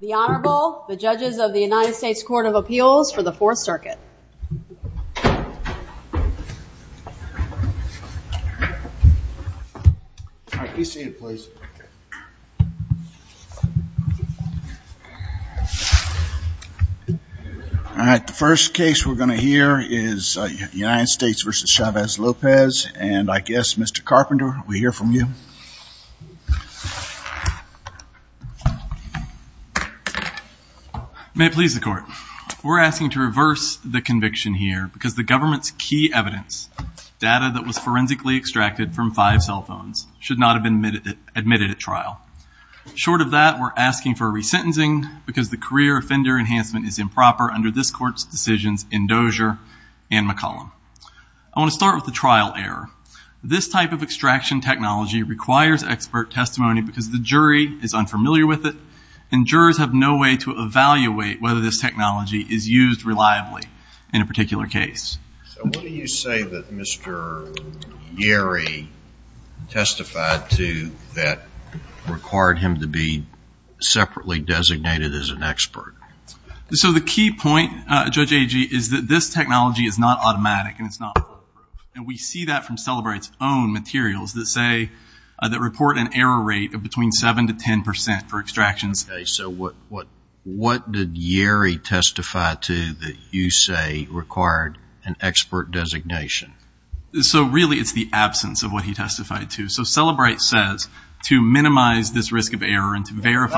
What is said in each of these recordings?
The Honorable, the judges of the United States Court of Appeals for the 4th Circuit. All right, the first case we're going to hear is United States v. Chavez-Lopez and I guess Mr. Carpenter, we hear from you. May it please the court, we're asking to reverse the conviction here because the government's key evidence, data that was forensically extracted from five cell phones, should not have been admitted at trial. Short of that, we're asking for a resentencing because the career offender enhancement is improper under this court's decisions in Dozier and McCollum. I want to start with the trial error. This type of extraction technology requires expert testimony because the jury is unfamiliar with it and jurors have no way to evaluate whether this technology is used reliably in a particular case. So what do you say that Mr. Yeary testified to that required him to be separately designated as an expert? So the key point, Judge Agee, is that this technology is not automatic and it's not and we see that from Celebrate's own materials that say that report an error rate of between seven to ten percent for extractions. So what what what did Yeary testify to that you say required an expert designation? So really it's the absence of what he testified to. So Celebrate says to minimize this risk of error and to point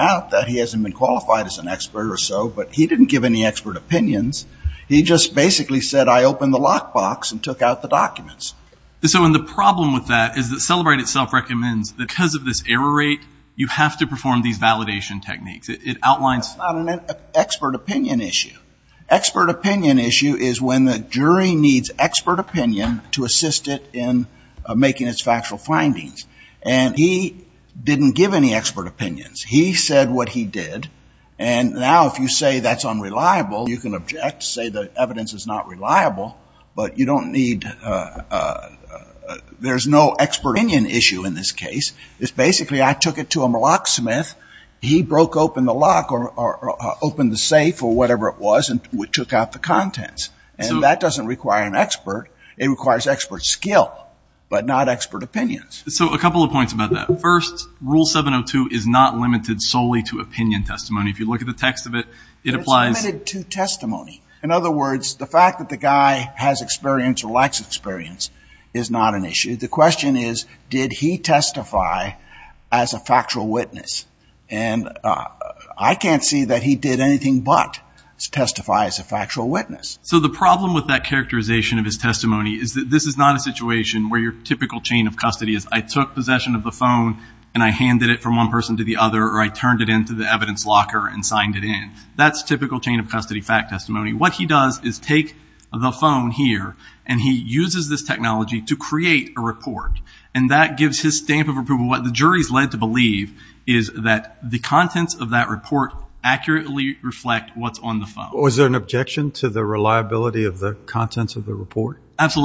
out that he hasn't been qualified as an expert or so but he didn't give any expert opinions. He just basically said I opened the lockbox and took out the documents. So in the problem with that is that Celebrate itself recommends because of this error rate you have to perform these validation techniques. It outlines an expert opinion issue. Expert opinion issue is when the jury needs expert opinion to assist it in making its factual findings and he didn't give any expert opinions. He said what he did and now if you say that's unreliable you can object say the evidence is not reliable but you don't need there's no expert opinion issue in this case. It's basically I took it to a locksmith. He broke open the lock or opened the safe or whatever it was and we took out the contents and that doesn't require an expert. It requires expert skill but not Rule 702 is not limited solely to opinion testimony. If you look at the text of it it applies to testimony. In other words the fact that the guy has experience or lacks experience is not an issue. The question is did he testify as a factual witness and I can't see that he did anything but testify as a factual witness. So the problem with that characterization of his testimony is that this is not a situation where your typical chain of custody is I took possession of the phone and I handed it from one person to the other or I turned it into the evidence locker and signed it in. That's typical chain of custody fact testimony. What he does is take the phone here and he uses this technology to create a report and that gives his stamp of approval. What the jury's led to believe is that the contents of that report accurately reflect what's on the phone. Was there an objection to the reliability of the contents of the report? I would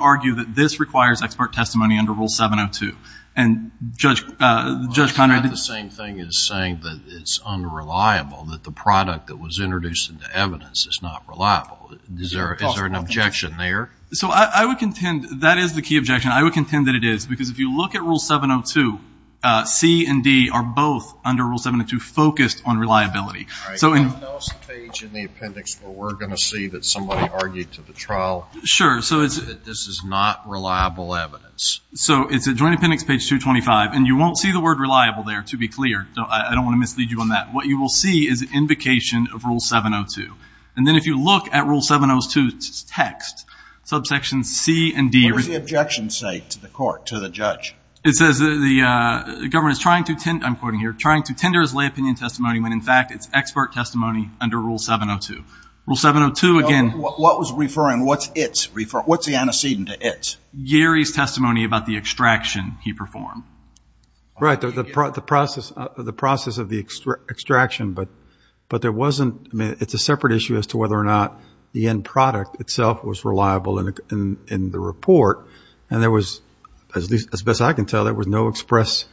argue that this requires expert testimony under Rule 702. And Judge Conrad... It's not the same thing as saying that it's unreliable. That the product that was introduced into evidence is not reliable. Is there an objection there? So I would contend that is the key objection. I would contend that it is because if you look at Rule 702, C and D are both under Rule 702 focused on reliability. All right. There's no page in the appendix where we're going to see that somebody argued to the trial that this is not reliable evidence. So it's a joint appendix, page 225, and you won't see the word reliable there, to be clear. I don't want to mislead you on that. What you will see is an invocation of Rule 702. And then if you look at Rule 702's text, subsection C and D... What does the objection say to the court, to the judge? It says the government is trying to, I'm quoting here, trying to tender as lay opinion testimony when in fact it's expert testimony under Rule 702. Rule 702 again. What was referring, what's it referring, what's the antecedent to it? Gary's testimony about the extraction he performed. Right. The process of the extraction, but there wasn't, I mean, it's a separate issue as to whether or not the end product itself was reliable in the report. And there was, as best I can tell, there was no express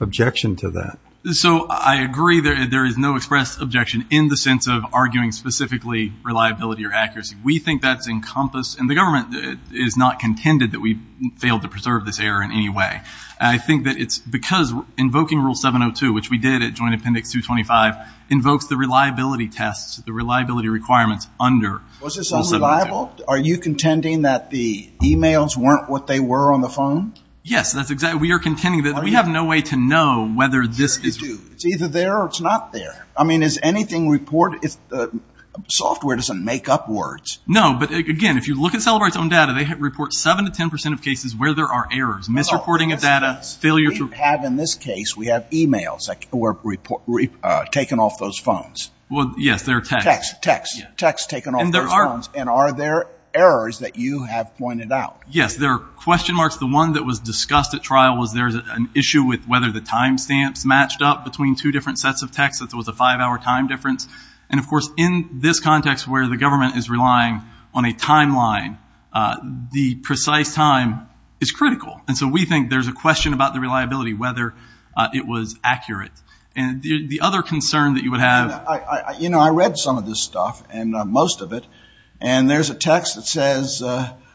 objection to that. So I agree there is no express objection in the sense of arguing specifically reliability or accuracy. We think that's encompassed, and the government is not contended that we failed to preserve this error in any way. I think that it's because invoking Rule 702, which we did at Joint Appendix 225, invokes the reliability tests, the reliability requirements under Rule 702. Was this unreliable? Are you contending that the emails weren't what they were on the phone? Yes, that's exactly, we are contending that we have no way to know whether this is... Software doesn't make up words. No, but again, if you look at Cellebrite's own data, they report 7 to 10 percent of cases where there are errors, misreporting of data, failure to... We have, in this case, we have emails that were taken off those phones. Well, yes, they're texts. Texts, texts, texts taken off those phones. And are there errors that you have pointed out? Yes, there are question marks. The one that was discussed at trial was there's an issue with whether the timestamps matched up between two different sets of relying on a timeline. The precise time is critical. And so we think there's a question about the reliability, whether it was accurate. And the other concern that you would have... You know, I read some of this stuff, and most of it, and there's a text that says,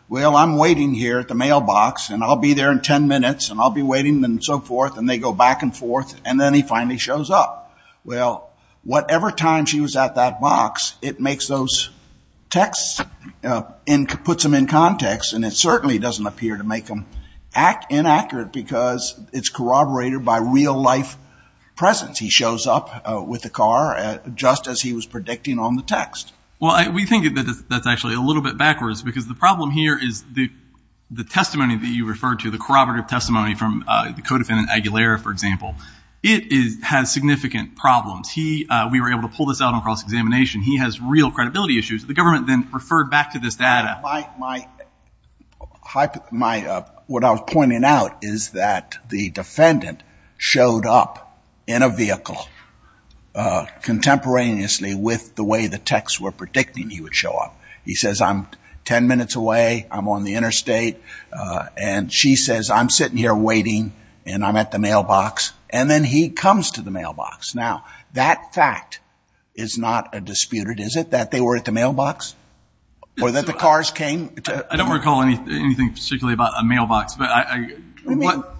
well, I'm waiting here at the mailbox, and I'll be there in 10 minutes, and I'll be waiting, and so forth, and they go back and forth, and then he finally shows up. Well, whatever time she was at that box, it makes those texts and puts them in context, and it certainly doesn't appear to make them inaccurate because it's corroborated by real-life presence. He shows up with the car just as he was predicting on the text. Well, we think that that's actually a little bit backwards because the problem here is the testimony that you referred to, the corroborative testimony from the defendant, has significant problems. We were able to pull this out on cross-examination. He has real credibility issues. The government then referred back to this data. My... What I was pointing out is that the defendant showed up in a vehicle contemporaneously with the way the texts were predicting he would show up. He says, I'm 10 minutes away, I'm on the interstate, and she says, I'm sitting here waiting, and I'm at the mailbox, and then he comes to the mailbox. Now, that fact is not disputed, is it, that they were at the mailbox? Or that the cars came? I don't recall anything particularly about a mailbox, but I...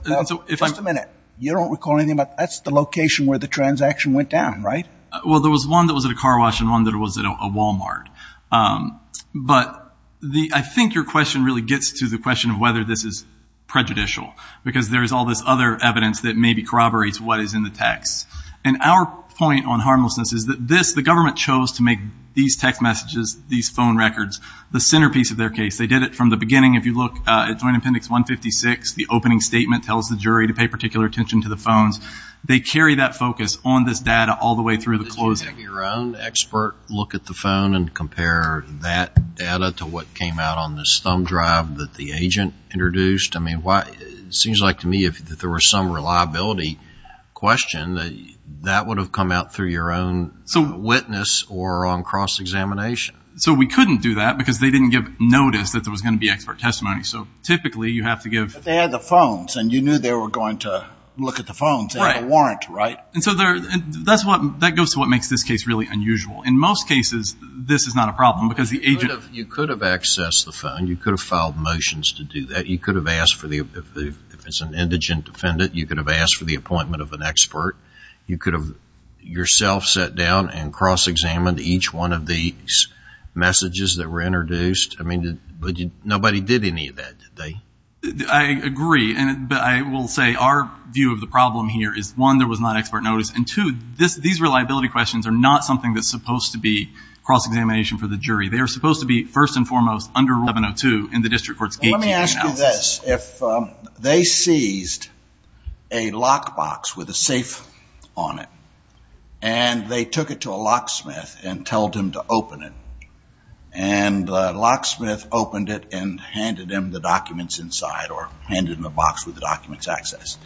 Just a minute. You don't recall anything about... That's the location where the transaction went down, right? Well, there was one that was at a Car Wash and one that was at a Walmart, but I think your question really gets to the question of whether this is prejudicial, because there is all this other evidence that maybe corroborates what is in the text. And our point on harmlessness is that this, the government chose to make these text messages, these phone records, the centerpiece of their case. They did it from the beginning. If you look at Joint Appendix 156, the opening statement tells the jury to pay particular attention to the phones. They carry that focus on this data all the way through the closing. Can you take your own expert look at the phone and compare that data to what came out on this thumb drive that the agent introduced? I mean, why... It seems like to me that if there was some reliability question, that would have come out through your own witness or on cross-examination. So we couldn't do that, because they didn't give notice that there was going to be expert testimony. So typically, you have to give... But they had the phones, and you knew they were going to look at the phones. Right. They had a warrant, right? Right. And so that goes to what makes this case really unusual. In most cases, this is not a problem, because the agent... You could have accessed the phone. You could have filed motions to do that. You could have asked for the... If it's an indigent defendant, you could have asked for the appointment of an expert. You could have yourself sat down and cross-examined each one of these messages that were introduced. I mean, nobody did any of that, did they? I agree, but I will say our view of the problem here is, one, there was not expert notice, and two, these reliability questions are not something that's supposed to be cross-examination for the jury. They are supposed to be, first and foremost, under Rule 702 in the district court's gatekeeping analysis. Let me ask you this. If they seized a lockbox with a safe on it, and they took it to a locksmith and told him to open it, and the locksmith opened it and put the documents inside or handed him the box with the documents accessed,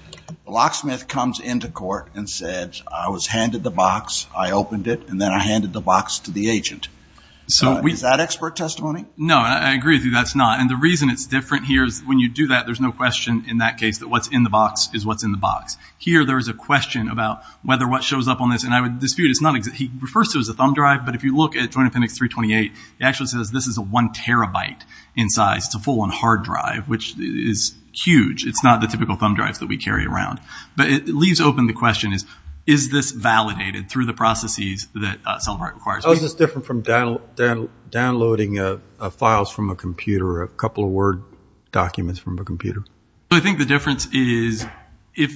the locksmith comes into court and said, I was handed the box, I opened it, and then I handed the box to the agent. Is that expert testimony? No, and I agree with you, that's not. And the reason it's different here is when you do that, there's no question in that case that what's in the box is what's in the box. Here, there is a question about whether what shows up on this, and I would dispute it's not... He refers to it as a thumb drive, but if you look at Joint Appendix 328, it actually says this is a one terabyte in size, it's a full-on hard drive, which is huge. It's not the typical thumb drives that we carry around. But it leaves open the question is, is this validated through the processes that Celebrite requires? How is this different from downloading files from a computer or a couple of Word documents from a computer? I think the difference is... Would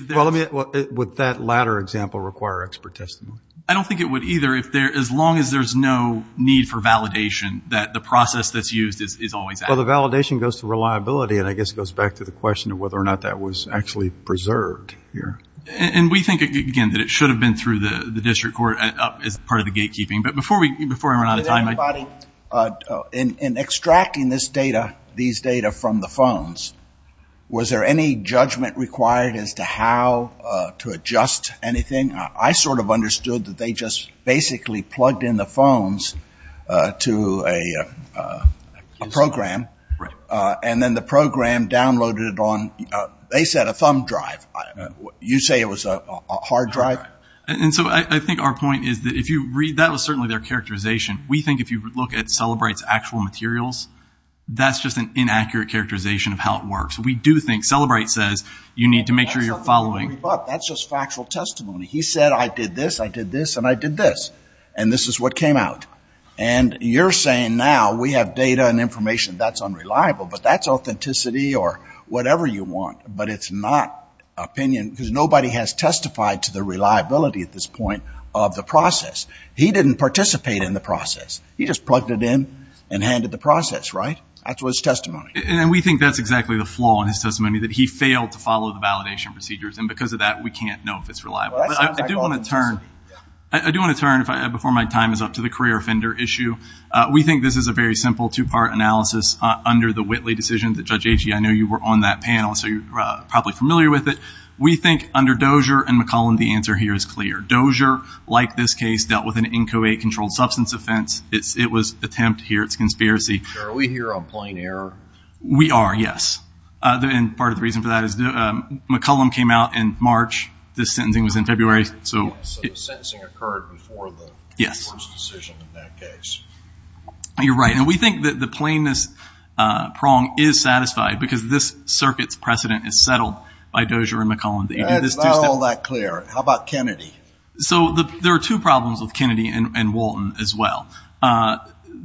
that latter example require expert testimony? I don't think it would either, as long as there's no need for validation that the process that's used is always accurate. Well, the validation goes to reliability, and I guess it goes back to the question of whether or not that was actually preserved here. And we think, again, that it should have been through the district court as part of the gatekeeping. But before we run out of time... Did anybody, in extracting this data, these data from the phones, was there any judgment required as to how to adjust anything? I sort of understood that they just basically plugged in the phones to a program, and then the program downloaded it on... They said a thumb drive. You say it was a hard drive? And so I think our point is that if you read... That was certainly their characterization. We think if you look at Celebrite's actual materials, that's just an inaccurate characterization of how it works. We do think... Celebrite says you need to make sure you're following... That's just factual testimony. He said, I did this, I did this, and I did this. And this is what came out. And you're saying now we have data and information. That's unreliable, but that's authenticity or whatever you want. But it's not opinion because nobody has testified to the reliability at this point of the process. He didn't participate in the process. He just plugged it in and handed the process, right? That's what his testimony is. And we think that's exactly the flaw in his testimony, that he failed to follow the validation procedures. And because of that, we can't know if it's reliable. I do want to turn, before my time is up, to the career offender issue. We think this is a very simple two-part analysis under the Whitley decision. Judge Agee, I know you were on that panel, so you're probably familiar with it. We think under Dozier and McCollum, the answer here is clear. Dozier, like this case, dealt with an inchoate-controlled substance offense. It was attempt here. It's conspiracy. Are we here on plain error? We are, yes. And part of the reason for that is McCollum came out in March. This sentencing was in February. So the sentencing occurred before the court's decision in that case. You're right. And we think that the plainness prong is satisfied because this circuit's precedent is settled by Dozier and McCollum. It's not all that clear. How about Kennedy? So there are two problems with Kennedy and Walton as well.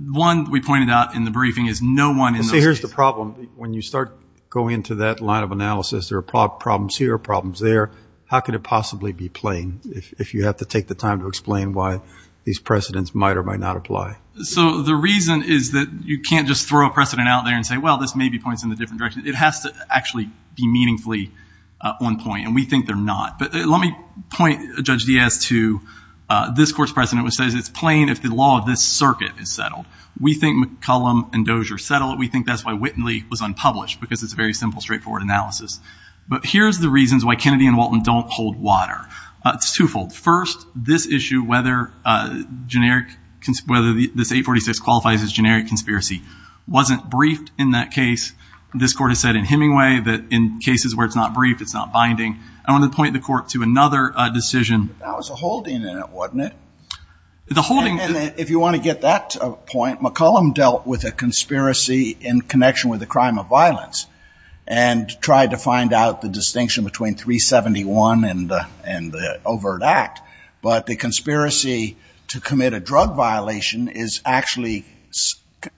One, we pointed out in the briefing, is no one in those two. See, here's the problem. When you start going into that line of analysis, there are problems here, problems there. How could it possibly be plain if you have to take the time to explain why these precedents might or might not apply? So the reason is that you can't just throw a precedent out there and say, well, this maybe points in a different direction. It has to actually be meaningfully on point, and we think they're not. But let me point Judge Diaz to this court's precedent, which says it's plain if the law of this circuit is settled. We think McCollum and Dozier settle it. We think that's why Whitley was unpublished, because it's a very simple, straightforward analysis. But here's the reasons why Kennedy and Walton don't hold water. It's twofold. First, this issue, whether this 846 qualifies as generic conspiracy, wasn't briefed in that case. This court has said in Hemingway that in cases where it's not briefed, it's not binding. I want to point the court to another decision. That was a holding in it, wasn't it? The holding. If you want to get that point, McCollum dealt with a conspiracy in connection with a crime of violence and tried to find out the distinction between 371 and the overt act. But the conspiracy to commit a drug violation is actually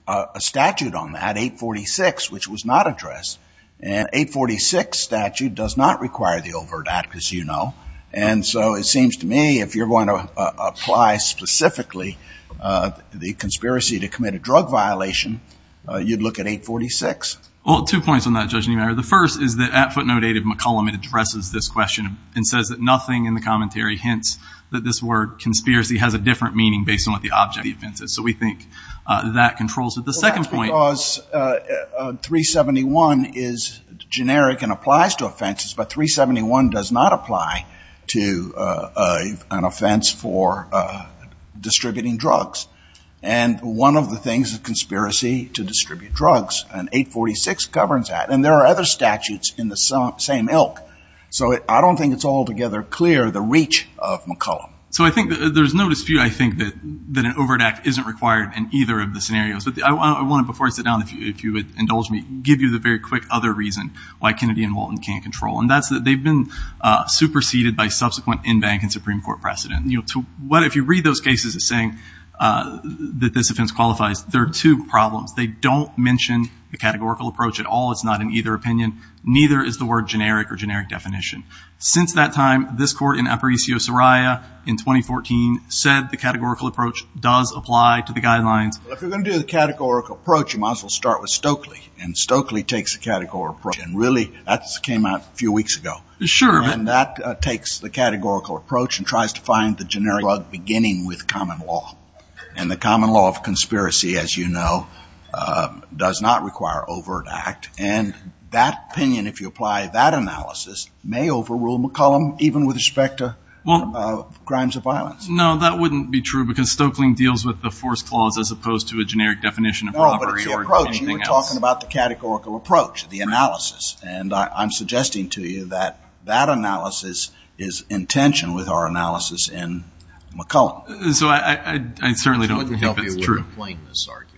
a statute on that, 846, which was not addressed. And 846 statute does not require the overt act, as you know. And so it seems to me, if you're going to apply specifically the conspiracy to commit a drug violation, you'd look at 846. Well, two points on that, Judge Niemeyer. The first is that at footnote 8 of McCollum, it addresses this question and says that nothing in the commentary hints that this word conspiracy has a different meaning based on what the object of the offense is. So we think that controls it. That's because 371 is generic and applies to offenses, but 371 does not apply to an offense for distributing drugs. And one of the things, a conspiracy to distribute drugs, and 846 governs that. And there are other statutes in the same ilk. So I don't think it's altogether clear the reach of McCollum. So I think there's no dispute, I think, that an overt act isn't required in either of the scenarios. But I want to, before I sit down, if you would indulge me, give you the very quick other reason why Kennedy and Walton can't control. And that's that they've been superseded by subsequent in-bank and Supreme Court precedent. If you read those cases as saying that this offense qualifies, there are two problems. They don't mention the categorical approach at all. It's not in either opinion. Neither is the word generic or generic definition. Since that time, this court in Aparicio-Soraya in 2014 said the categorical approach does apply to the guidelines. If you're going to do the categorical approach, you might as well start with Stokely. And Stokely takes the categorical approach. And really, that came out a few weeks ago. Sure. And that takes the categorical approach and tries to find the generic drug beginning with common law. And the common law of conspiracy, as you know, does not require overt act. And that opinion, if you apply that analysis, may overrule McCollum even with respect to crimes of violence. No, that wouldn't be true because Stokely deals with the force clause as opposed to a generic definition of robbery or anything else. No, but it's the approach. You were talking about the categorical approach, the analysis. And I'm suggesting to you that that analysis is in tension with our analysis in McCollum. So I certainly don't think that's true. Which wouldn't help you with the plainness argument.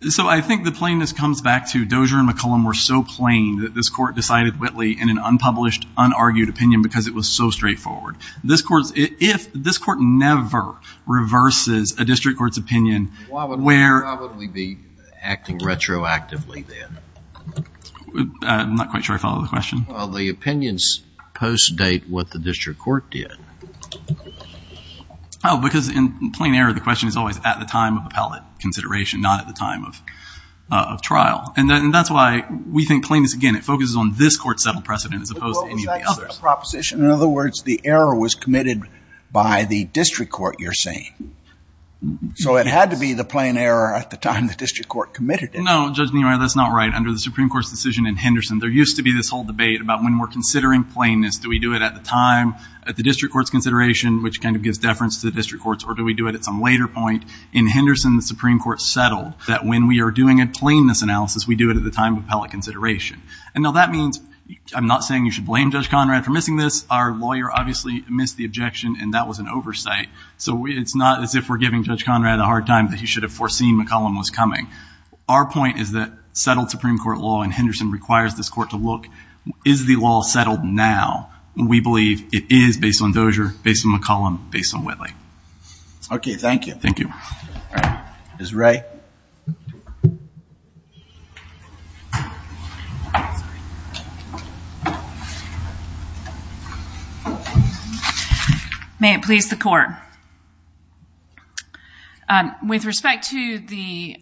So I think the plainness comes back to Dozier and McCollum were so plain that this court decided Whitley in an unpublished, unargued opinion because it was so straightforward. This court never reverses a district court's opinion. Why would we be acting retroactively then? I'm not quite sure I follow the question. Well, the opinions post-date what the district court did. Oh, because in plain error, the question is always at the time of appellate consideration, not at the time of trial. And that's why we think plainness, again, it focuses on this court's settled precedent as opposed to any of the others. In other words, the error was committed by the district court, you're saying. So it had to be the plain error at the time the district court committed it. No, Judge Neumeyer, that's not right. Under the Supreme Court's decision in Henderson, there used to be this whole debate about when we're considering plainness, do we do it at the time at the district court's consideration, which kind of gives deference to the district courts, or do we do it at some later point? In Henderson, the Supreme Court settled that when we are doing a plainness analysis, we do it at the time of appellate consideration. And now that means I'm not saying you should blame Judge Conrad for missing this. Our lawyer obviously missed the objection, and that was an oversight. So it's not as if we're giving Judge Conrad a hard time that he should have foreseen McCollum was coming. Our point is that settled Supreme Court law in Henderson requires this court to look, is the law settled now? We believe it is based on Dozier, based on McCollum, based on Whitley. Okay, thank you. Thank you. All right. Ms. Ray? Sorry. May it please the court. With respect to the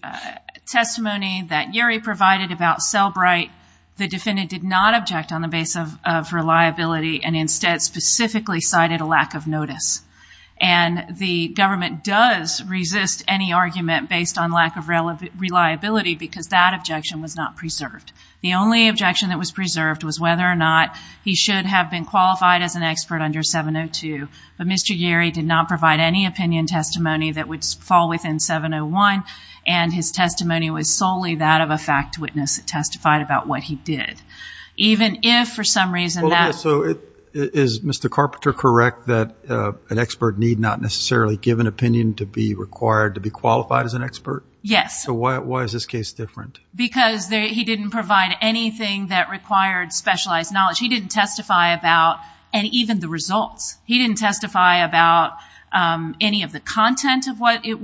testimony that Yerry provided about Selbright, the defendant did not object on the basis of reliability and instead specifically cited a lack of notice. And the government does resist any argument based on lack of reliability because that objection was not preserved. The only objection that was preserved was whether or not he should have been qualified as an expert under 702. But Mr. Yerry did not provide any opinion testimony that would fall within 701, and his testimony was solely that of a fact witness that testified about what he did. Even if, for some reason, that's- So is Mr. Carpenter correct that an expert need not necessarily give an opinion to be required to be qualified as an expert? Yes. So why is this case different? Because he didn't provide anything that required specialized knowledge. He didn't testify about even the results. He didn't testify about any of the content of what it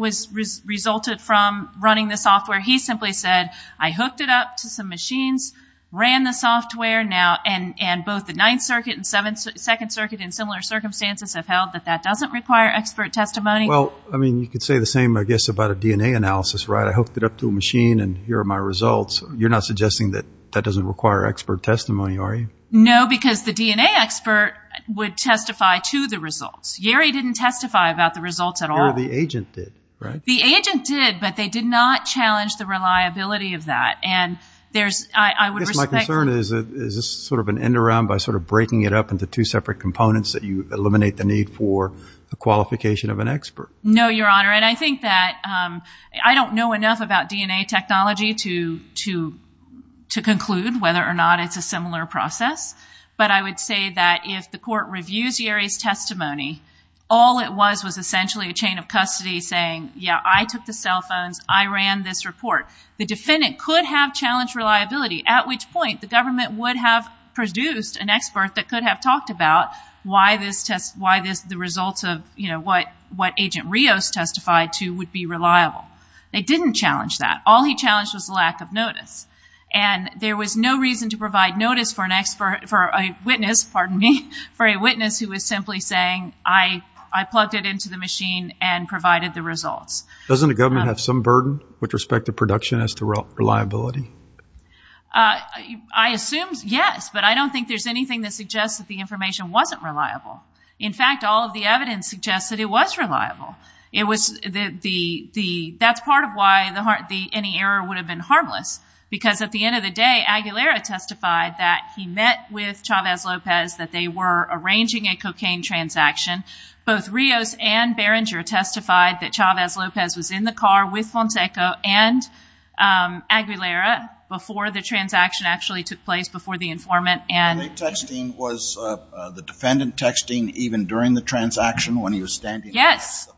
resulted from running the software. He simply said, I hooked it up to some machines, ran the software, and both the Ninth Circuit and Second Circuit in similar circumstances have held that that doesn't require expert testimony. Well, I mean, you could say the same, I guess, about a DNA analysis, right? I hooked it up to a machine, and here are my results. You're not suggesting that that doesn't require expert testimony, are you? No, because the DNA expert would testify to the results. Yerry didn't testify about the results at all. The agent did, right? The agent did, but they did not challenge the reliability of that. And there's- I guess my concern is, is this sort of an end around by sort of breaking it up into two separate components that you eliminate the need for a qualification of an expert? No, Your Honor. And I think that I don't know enough about DNA technology to conclude whether or not it's a similar process, but I would say that if the court reviews Yerry's testimony, all it was was essentially a chain of custody saying, yeah, I took the cell phones, I ran this report. The defendant could have challenged reliability, at which point the government would have produced an expert that could have talked about why this test- testified to would be reliable. They didn't challenge that. All he challenged was lack of notice. And there was no reason to provide notice for a witness who was simply saying, I plugged it into the machine and provided the results. Doesn't the government have some burden with respect to production as to reliability? I assume yes, but I don't think there's anything that suggests that the information wasn't reliable. In fact, all of the evidence suggests that it was reliable. That's part of why any error would have been harmless, because at the end of the day Aguilera testified that he met with Chavez-Lopez, that they were arranging a cocaine transaction. Both Rios and Berenger testified that Chavez-Lopez was in the car with Fonseca and Aguilera before the transaction actually took place, before the informant. Was the defendant texting even during the transaction when he was standing there? Yes.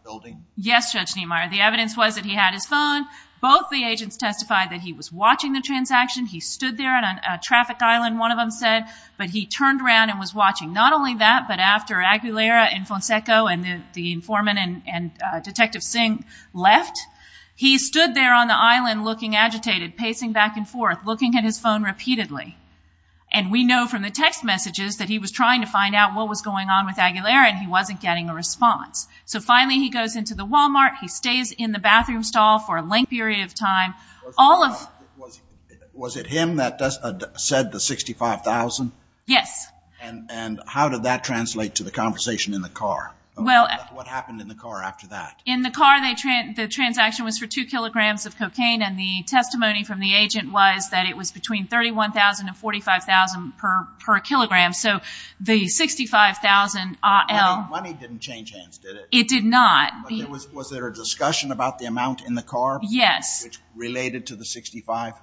Yes, Judge Niemeyer. The evidence was that he had his phone. Both the agents testified that he was watching the transaction. He stood there on a traffic island, one of them said, but he turned around and was watching. Not only that, but after Aguilera and Fonseca and the informant and Detective Singh left, he stood there on the island looking agitated, pacing back and forth, looking at his phone repeatedly. And we know from the text messages that he was trying to find out what was going on with Aguilera and he wasn't getting a response. So finally he goes into the Walmart, he stays in the bathroom stall for a length period of time. Was it him that said the $65,000? Yes. And how did that translate to the conversation in the car? What happened in the car after that? In the car the transaction was for two kilograms of cocaine and the testimony from the agent was that it was between $31,000 and $45,000 per kilogram. So the $65,000 IL. The money didn't change hands, did it? It did not. Was there a discussion about the amount in the car? Yes. Which related to the $65,000?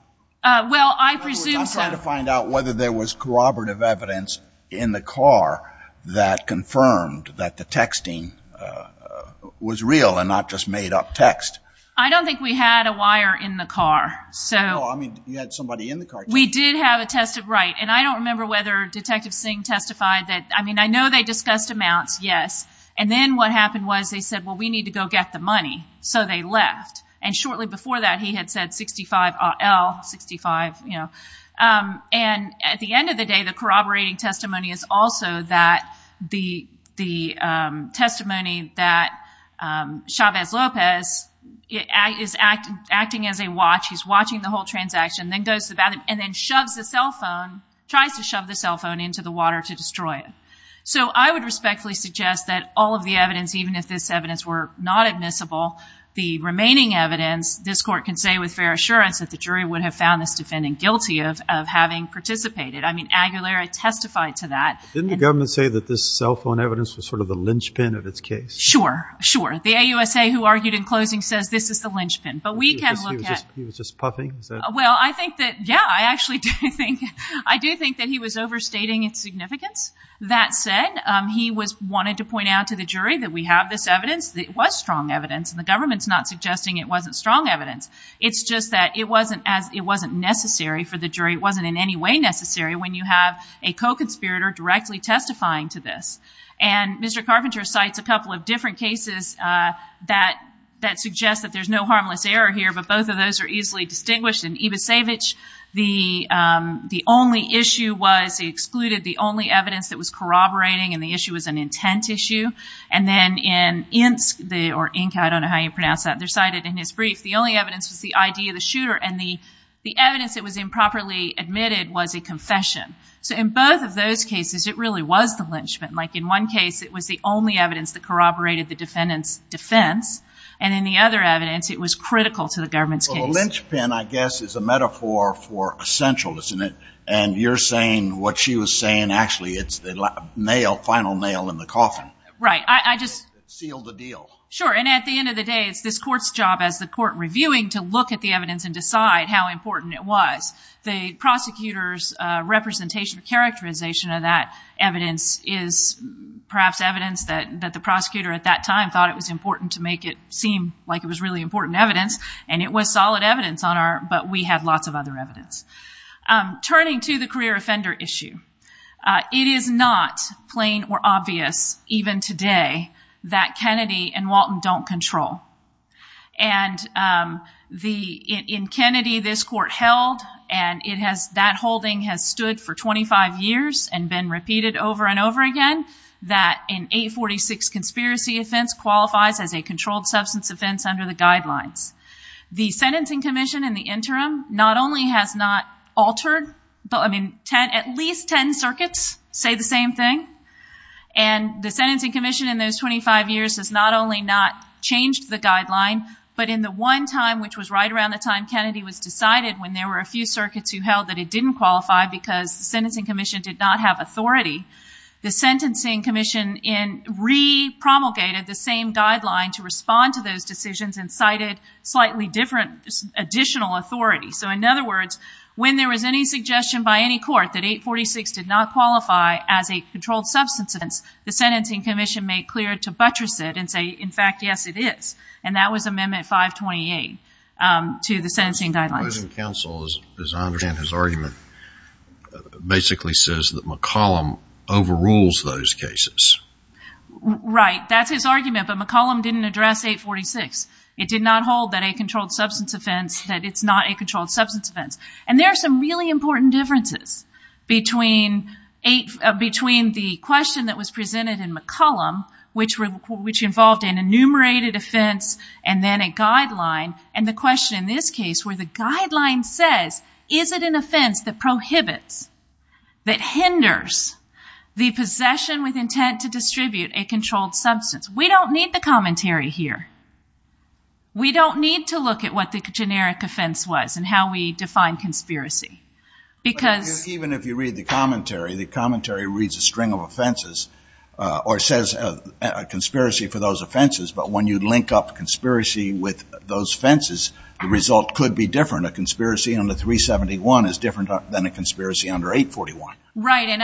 Well, I presume so. I'm trying to find out whether there was corroborative evidence in the car that confirmed that the texting was real and not just made up text. I don't think we had a wire in the car. No, I mean you had somebody in the car. We did have a test of right. And I don't remember whether Detective Singh testified that. I mean, I know they discussed amounts, yes. And then what happened was they said, well, we need to go get the money. So they left. And shortly before that he had said $65,000 IL, $65,000, you know. And at the end of the day, the corroborating testimony is also that the testimony that Chavez Lopez is acting as a watch, he's watching the whole transaction, then goes to the bathroom and then shoves the cell phone, tries to shove the cell phone into the water to destroy it. So I would respectfully suggest that all of the evidence, even if this evidence were not admissible, the remaining evidence, this Court can say with fair assurance that the jury would have found this defendant guilty of having participated. I mean, Aguilera testified to that. Didn't the government say that this cell phone evidence was sort of the linchpin of its case? Sure. Sure. The AUSA who argued in closing says this is the linchpin. But we can look at. He was just puffing? Well, I think that, yeah, I actually do think, I do think that he was overstating its significance. That said, he wanted to point out to the jury that we have this evidence, that it was strong evidence, and the government's not suggesting it wasn't strong evidence. It's just that it wasn't necessary for the jury, it wasn't in any way necessary when you have a co-conspirator directly testifying to this. And Mr. Carpenter cites a couple of different cases that suggest that there's no harmless error here, but both of those are easily distinguished. In Ivessevic, the only issue was he excluded the only evidence that was corroborating, and the issue was an intent issue. And then in Insk, or Inka, I don't know how you pronounce that, they're cited in his brief, the only evidence was the ID of the shooter, and the evidence that was improperly admitted was a confession. So in both of those cases, it really was the linchpin. Like, in one case, it was the only evidence that corroborated the defendant's defense, and in the other evidence, it was critical to the government's case. So a linchpin, I guess, is a metaphor for essential, isn't it? And you're saying what she was saying, actually, it's the final nail in the coffin. Right. It sealed the deal. Sure. And at the end of the day, it's this court's job as the court reviewing to look at the evidence and decide how important it was. The prosecutor's representation or characterization of that evidence is perhaps evidence that the prosecutor at that time thought it was important to make it seem like it was really important evidence, and it was solid evidence, but we had lots of other evidence. Turning to the career offender issue, it is not plain or obvious, even today, that Kennedy and Walton don't control. And in Kennedy, this court held, and that holding has stood for 25 years and been repeated over and over again, that an 846 conspiracy offense qualifies as a controlled substance offense under the guidelines. The sentencing commission in the interim not only has not altered, at least 10 circuits say the same thing, and the sentencing commission in those 25 years has not only not changed the guideline, but in the one time, which was right around the time Kennedy was decided, when there were a few circuits who held that it didn't qualify because the sentencing commission did not have authority, the sentencing commission re-promulgated the same guideline to respond to those decisions and cited slightly different additional authority. So in other words, when there was any suggestion by any court that 846 did not qualify as a controlled substance offense, the sentencing commission made clear to buttress it and say, in fact, yes, it is. And that was amendment 528 to the sentencing guidelines. The opposing counsel, as I understand his argument, basically says that McCollum overrules those cases. Right. That's his argument, but McCollum didn't address 846. It did not hold that a controlled substance offense, that it's not a controlled substance offense. And there are some really important differences between the question that was presented in McCollum, which involved an enumerated offense and then a guideline says, is it an offense that prohibits, that hinders the possession with intent to distribute a controlled substance? We don't need the commentary here. We don't need to look at what the generic offense was and how we define conspiracy. Even if you read the commentary, the commentary reads a string of offenses or says a conspiracy for those offenses. But when you link up conspiracy with those fences, the result could be different. A conspiracy under 371 is different than a conspiracy under 841. Right. And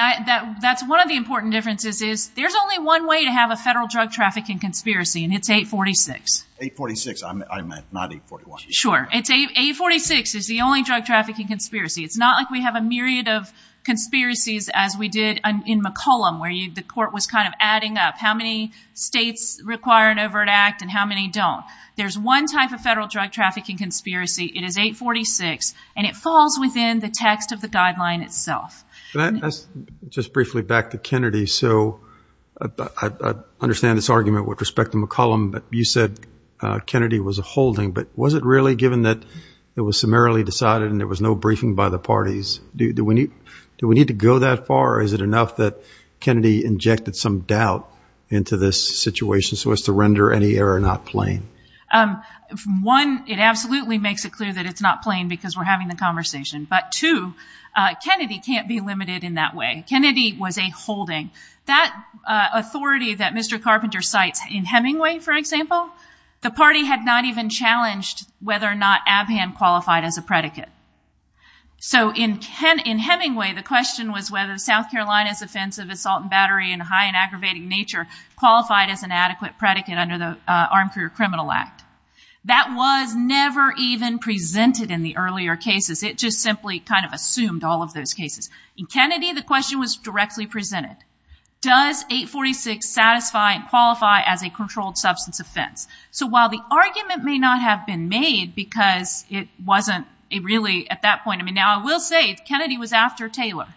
that's one of the important differences is there's only one way to have a federal drug trafficking conspiracy and it's 846. 846, I meant, not 841. Sure. It's 846 is the only drug trafficking conspiracy. It's not like we have a myriad of conspiracies as we did in McCollum, where the court was kind of adding up how many states require an overt act and how many don't. There's one type of federal drug trafficking conspiracy. It is 846 and it falls within the text of the guideline itself. Just briefly back to Kennedy. So I understand this argument with respect to McCollum, but you said Kennedy was a holding, but was it really given that it was summarily decided and there was no briefing by the parties? Do we need to go that far? Or is it enough that Kennedy injected some doubt into this situation so as to One, it absolutely makes it clear that it's not plain because we're having the conversation. But two, Kennedy can't be limited in that way. Kennedy was a holding. That authority that Mr. Carpenter cites in Hemingway, for example, the party had not even challenged whether or not Abhan qualified as a predicate. So in Hemingway, the question was whether South Carolina's offensive assault and battery in high and aggravating nature qualified as an adequate predicate under the Career Criminal Act. That was never even presented in the earlier cases. It just simply kind of assumed all of those cases. In Kennedy, the question was directly presented. Does 846 satisfy and qualify as a controlled substance offense? So while the argument may not have been made because it wasn't really at that point. I mean, now I will say Kennedy was after Taylor.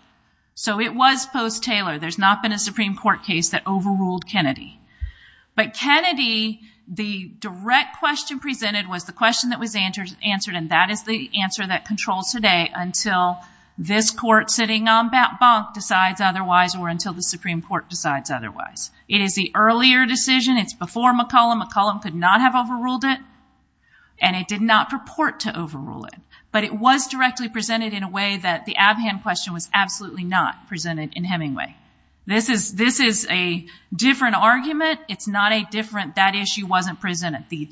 So it was post-Taylor. There's not been a Supreme Court case that overruled Kennedy. But Kennedy, the direct question presented was the question that was answered and that is the answer that controls today until this court sitting on bat bunk decides otherwise or until the Supreme Court decides otherwise. It is the earlier decision. It's before McCollum. McCollum could not have overruled it and it did not purport to overrule it, but it was directly presented in a way that the Abhan question was absolutely not presented in Hemingway. This is a different argument. It's not a different that issue wasn't presented. The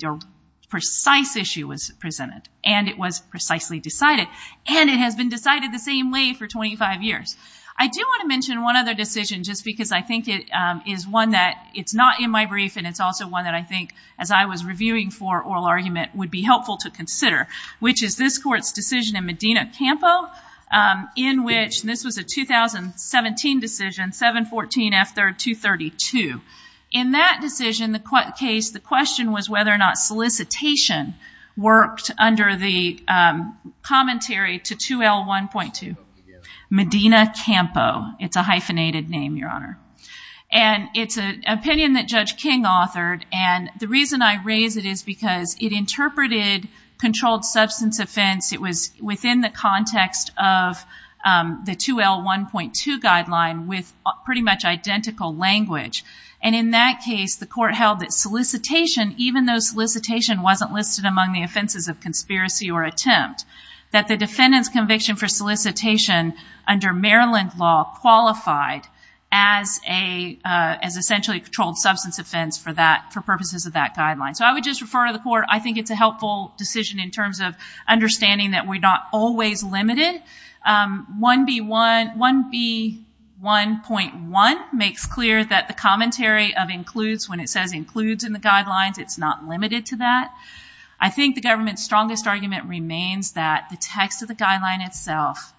precise issue was presented and it was precisely decided and it has been decided the same way for 25 years. I do want to mention one other decision just because I think it is one that it's not in my brief and it's also one that I think as I was reviewing for oral argument would be helpful to consider, which is this court's decision in Medina-Campo in which this was a 2017 decision, 714F232. In that decision, the question was whether or not solicitation worked under the commentary to 2L1.2. Medina-Campo. It's a hyphenated name, Your Honor. It's an opinion that Judge King authored and the reason I raise it is because it interpreted controlled substance offense. It was within the context of the 2L1.2 guideline with pretty much identical language. In that case, the court held that solicitation, even though solicitation wasn't listed among the offenses of conspiracy or attempt, that the defendant's conviction for solicitation under Maryland law qualified as essentially a controlled substance offense for purposes of that guideline. I would just refer to the court. I think it's a helpful decision in terms of understanding that we're not always limited. 1B1.1 makes clear that the commentary of includes, when it says includes in the guidelines, it's not limited to that. I think the government's strongest argument remains that the text of the guideline itself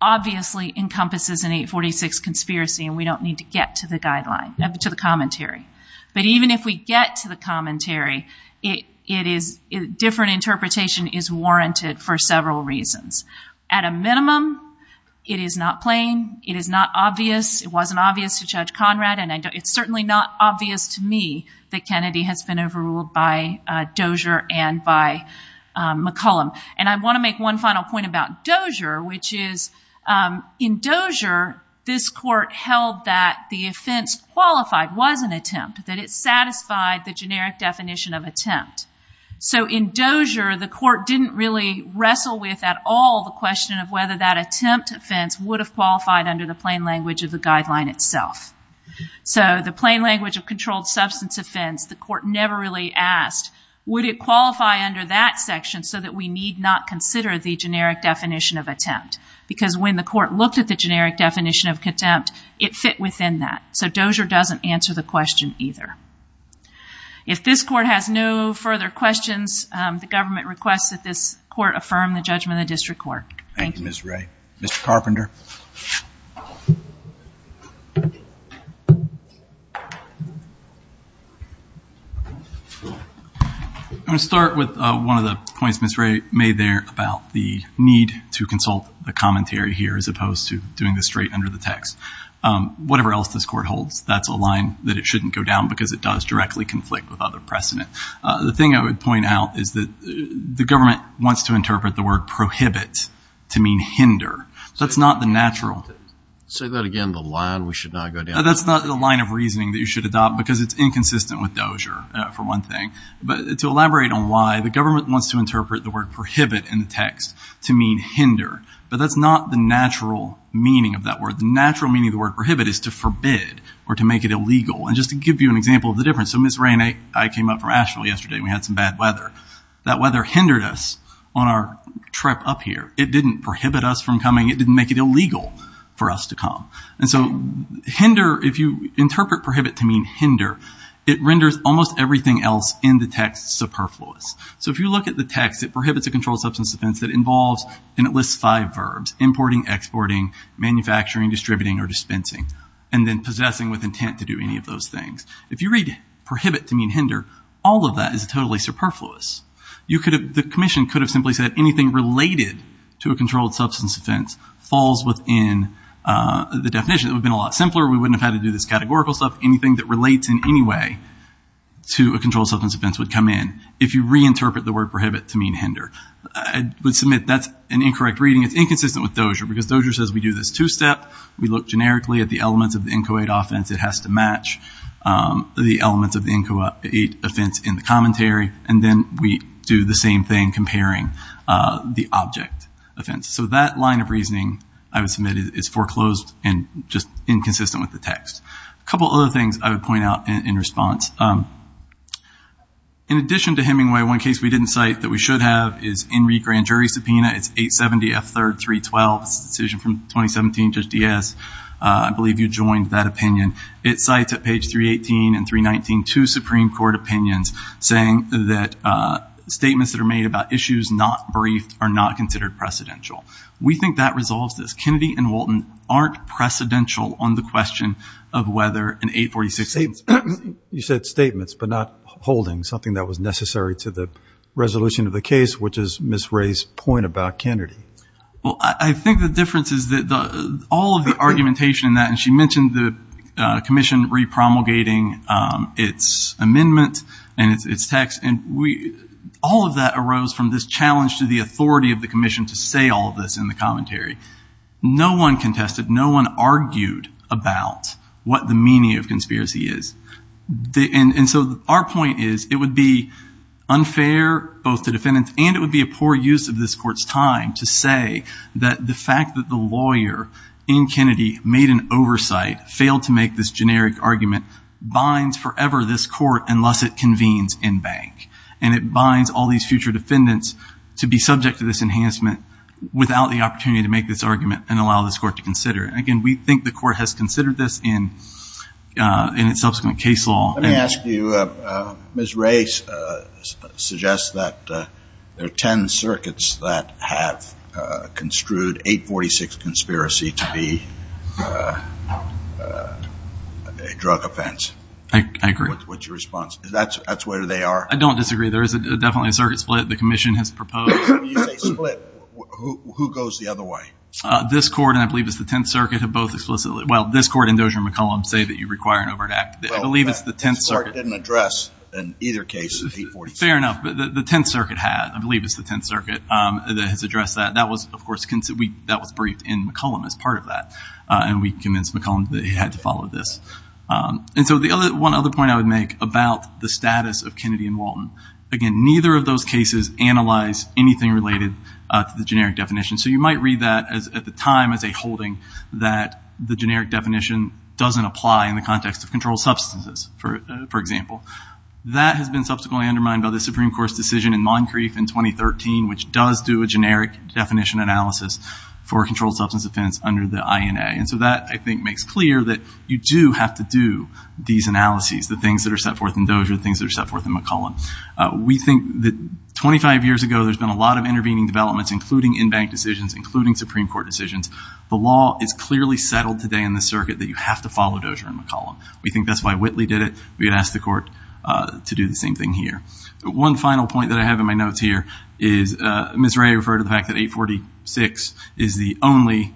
obviously encompasses an 846 conspiracy and we don't need to get to the commentary. Even if we get to the commentary, different interpretation is warranted for several reasons. At a minimum, it is not plain. It is not obvious. It wasn't obvious to Judge Conrad and it's certainly not obvious to me that Kennedy has been overruled by Dozier and by McCollum. I want to make one final point about Dozier, which is in Dozier, this court held that the offense qualified was an attempt, that it satisfied the generic definition of attempt. In Dozier, the court didn't really wrestle with at all the question of whether that attempt offense would have qualified under the plain language of the guideline itself. The plain language of controlled substance offense, the court never really asked, would it qualify under that section so that we need not consider the generic definition of attempt? Because when the court looked at the generic definition of attempt, it fit within that. So Dozier doesn't answer the question either. If this court has no further questions, the government requests that this court affirm the judgment of the district court. Thank you. Thank you, Ms. Ray. Mr. Carpenter. I'm going to start with one of the points Ms. Ray made there about the need to consult the commentary here as opposed to doing this straight under the text. Whatever else this court holds, that's a line that it shouldn't go down because it does directly conflict with other precedent. The thing I would point out is that the government wants to interpret the word prohibit to mean hinder. That's not the natural. Say that again, the line we should not go down. That's not the line of reasoning that you should adopt because it's inconsistent with Dozier, for one thing. But to elaborate on why, the government wants to interpret the word prohibit in the text to mean hinder. But that's not the natural meaning of that word. The natural meaning of the word prohibit is to forbid or to make it illegal. And just to give you an example of the difference, so Ms. Ray and I came up from Asheville yesterday and we had some bad weather. That weather hindered us on our trip up here. It didn't prohibit us from coming. It didn't make it illegal for us to come. And so hinder, if you interpret prohibit to mean hinder, it renders almost everything else in the text superfluous. So if you look at the text, it prohibits a controlled substance offense that involves and it lists five verbs, importing, exporting, manufacturing, distributing, or dispensing, and then possessing with intent to do any of those things. If you read prohibit to mean hinder, all of that is totally superfluous. The commission could have simply said anything related to a controlled substance offense falls within the definition. It would have been a lot simpler. We wouldn't have had to do this categorical stuff. Anything that relates in any way to a controlled substance offense would come in if you reinterpret the word prohibit to mean hinder. I would submit that's an incorrect reading. It's inconsistent with Dozier because Dozier says we do this two-step. We look generically at the elements of the INCO8 offense. It has to match the elements of the INCO8 offense in the commentary, and then we do the same thing comparing the object offense. So that line of reasoning, I would submit, is foreclosed and just inconsistent with the text. A couple other things I would point out in response. In addition to Hemingway, one case we didn't cite that we should have is Enrique Grand Jury subpoena. It's 870F3-312. It's a decision from 2017, Judge Diaz. I believe you joined that opinion. It cites at page 318 and 319 two Supreme Court opinions saying that statements that are made about issues not briefed are not considered precedential. We think that resolves this. Kennedy and Walton aren't precedential on the question of whether an 846 You said statements but not holdings, something that was necessary to the resolution of the case, which is Ms. Ray's point about Kennedy. Well, I think the difference is that all of the argumentation in that, and she mentioned the commission repromulgating its amendment and its text, and all of that arose from this challenge to the authority of the commission to say all of this in the commentary. No one contested. No one argued about what the meaning of conspiracy is. And so our point is it would be unfair both to defendants and it would be a poor use of this court's time to say that the fact that the lawyer in Kennedy made an oversight, failed to make this generic argument, binds forever this court unless it convenes in bank. And it binds all these future defendants to be subject to this enhancement without the opportunity to make this argument and allow this court to consider. And again, we think the court has considered this in its subsequent case law. Let me ask you, Ms. Ray suggests that there are 10 circuits that have construed 846 conspiracy to be a drug offense. I agree. What's your response? That's where they are? I don't disagree. There is definitely a circuit split. The commission has proposed. When you say split, who goes the other way? This court and I believe it's the 10th circuit have both explicitly. Well, this court and Dozier and McCollum say that you require an overt act. I believe it's the 10th circuit. This court didn't address in either case 846. Fair enough. The 10th circuit had. I believe it's the 10th circuit that has addressed that. That was, of course, briefed in McCollum as part of that. And we convinced McCollum that he had to follow this. And so one other point I would make about the status of Kennedy and Walton. Again, neither of those cases analyze anything related to the generic definition. So you might read that at the time as a holding that the generic definition doesn't apply in the context of controlled substances, for example. That has been subsequently undermined by the Supreme Court's decision in Moncrief in 2013, which does do a generic definition analysis for controlled substance offense under the INA. And so that, I think, makes clear that you do have to do these analyses, the things that are set forth in Dozier, the things that are set forth in McCollum. We think that 25 years ago there's been a lot of intervening developments, including in-bank decisions, including Supreme Court decisions. The law is clearly settled today in this circuit that you have to follow Dozier and McCollum. We think that's why Whitley did it. We would ask the court to do the same thing here. One final point that I have in my notes here is Ms. Ray referred to the fact that 846 is the only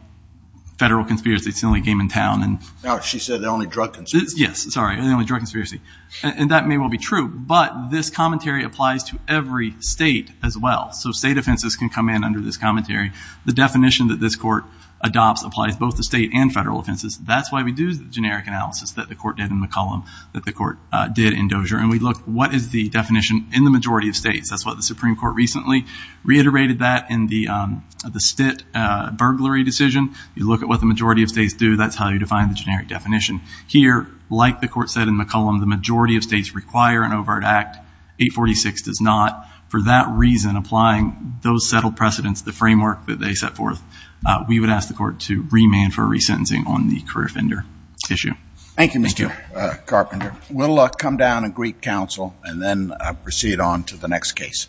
federal conspiracy. It's the only game in town. She said the only drug conspiracy. Yes, sorry, the only drug conspiracy. And that may well be true, but this commentary applies to every state as well. So state offenses can come in under this commentary. The definition that this court adopts applies both to state and federal offenses. That's why we do the generic analysis that the court did in McCollum, that the court did in Dozier. And we look, what is the definition in the majority of states? That's what the Supreme Court recently reiterated that in the Stitt burglary decision. You look at what the majority of states do. That's how you define the generic definition. Here, like the court said in McCollum, the majority of states require an overt act. 846 does not. For that reason, applying those settled precedents, the framework that they set forth, we would ask the court to remand for resentencing on the career offender issue. Thank you, Mr. Carpenter. We'll come down and greet counsel and then proceed on to the next case. Thank you.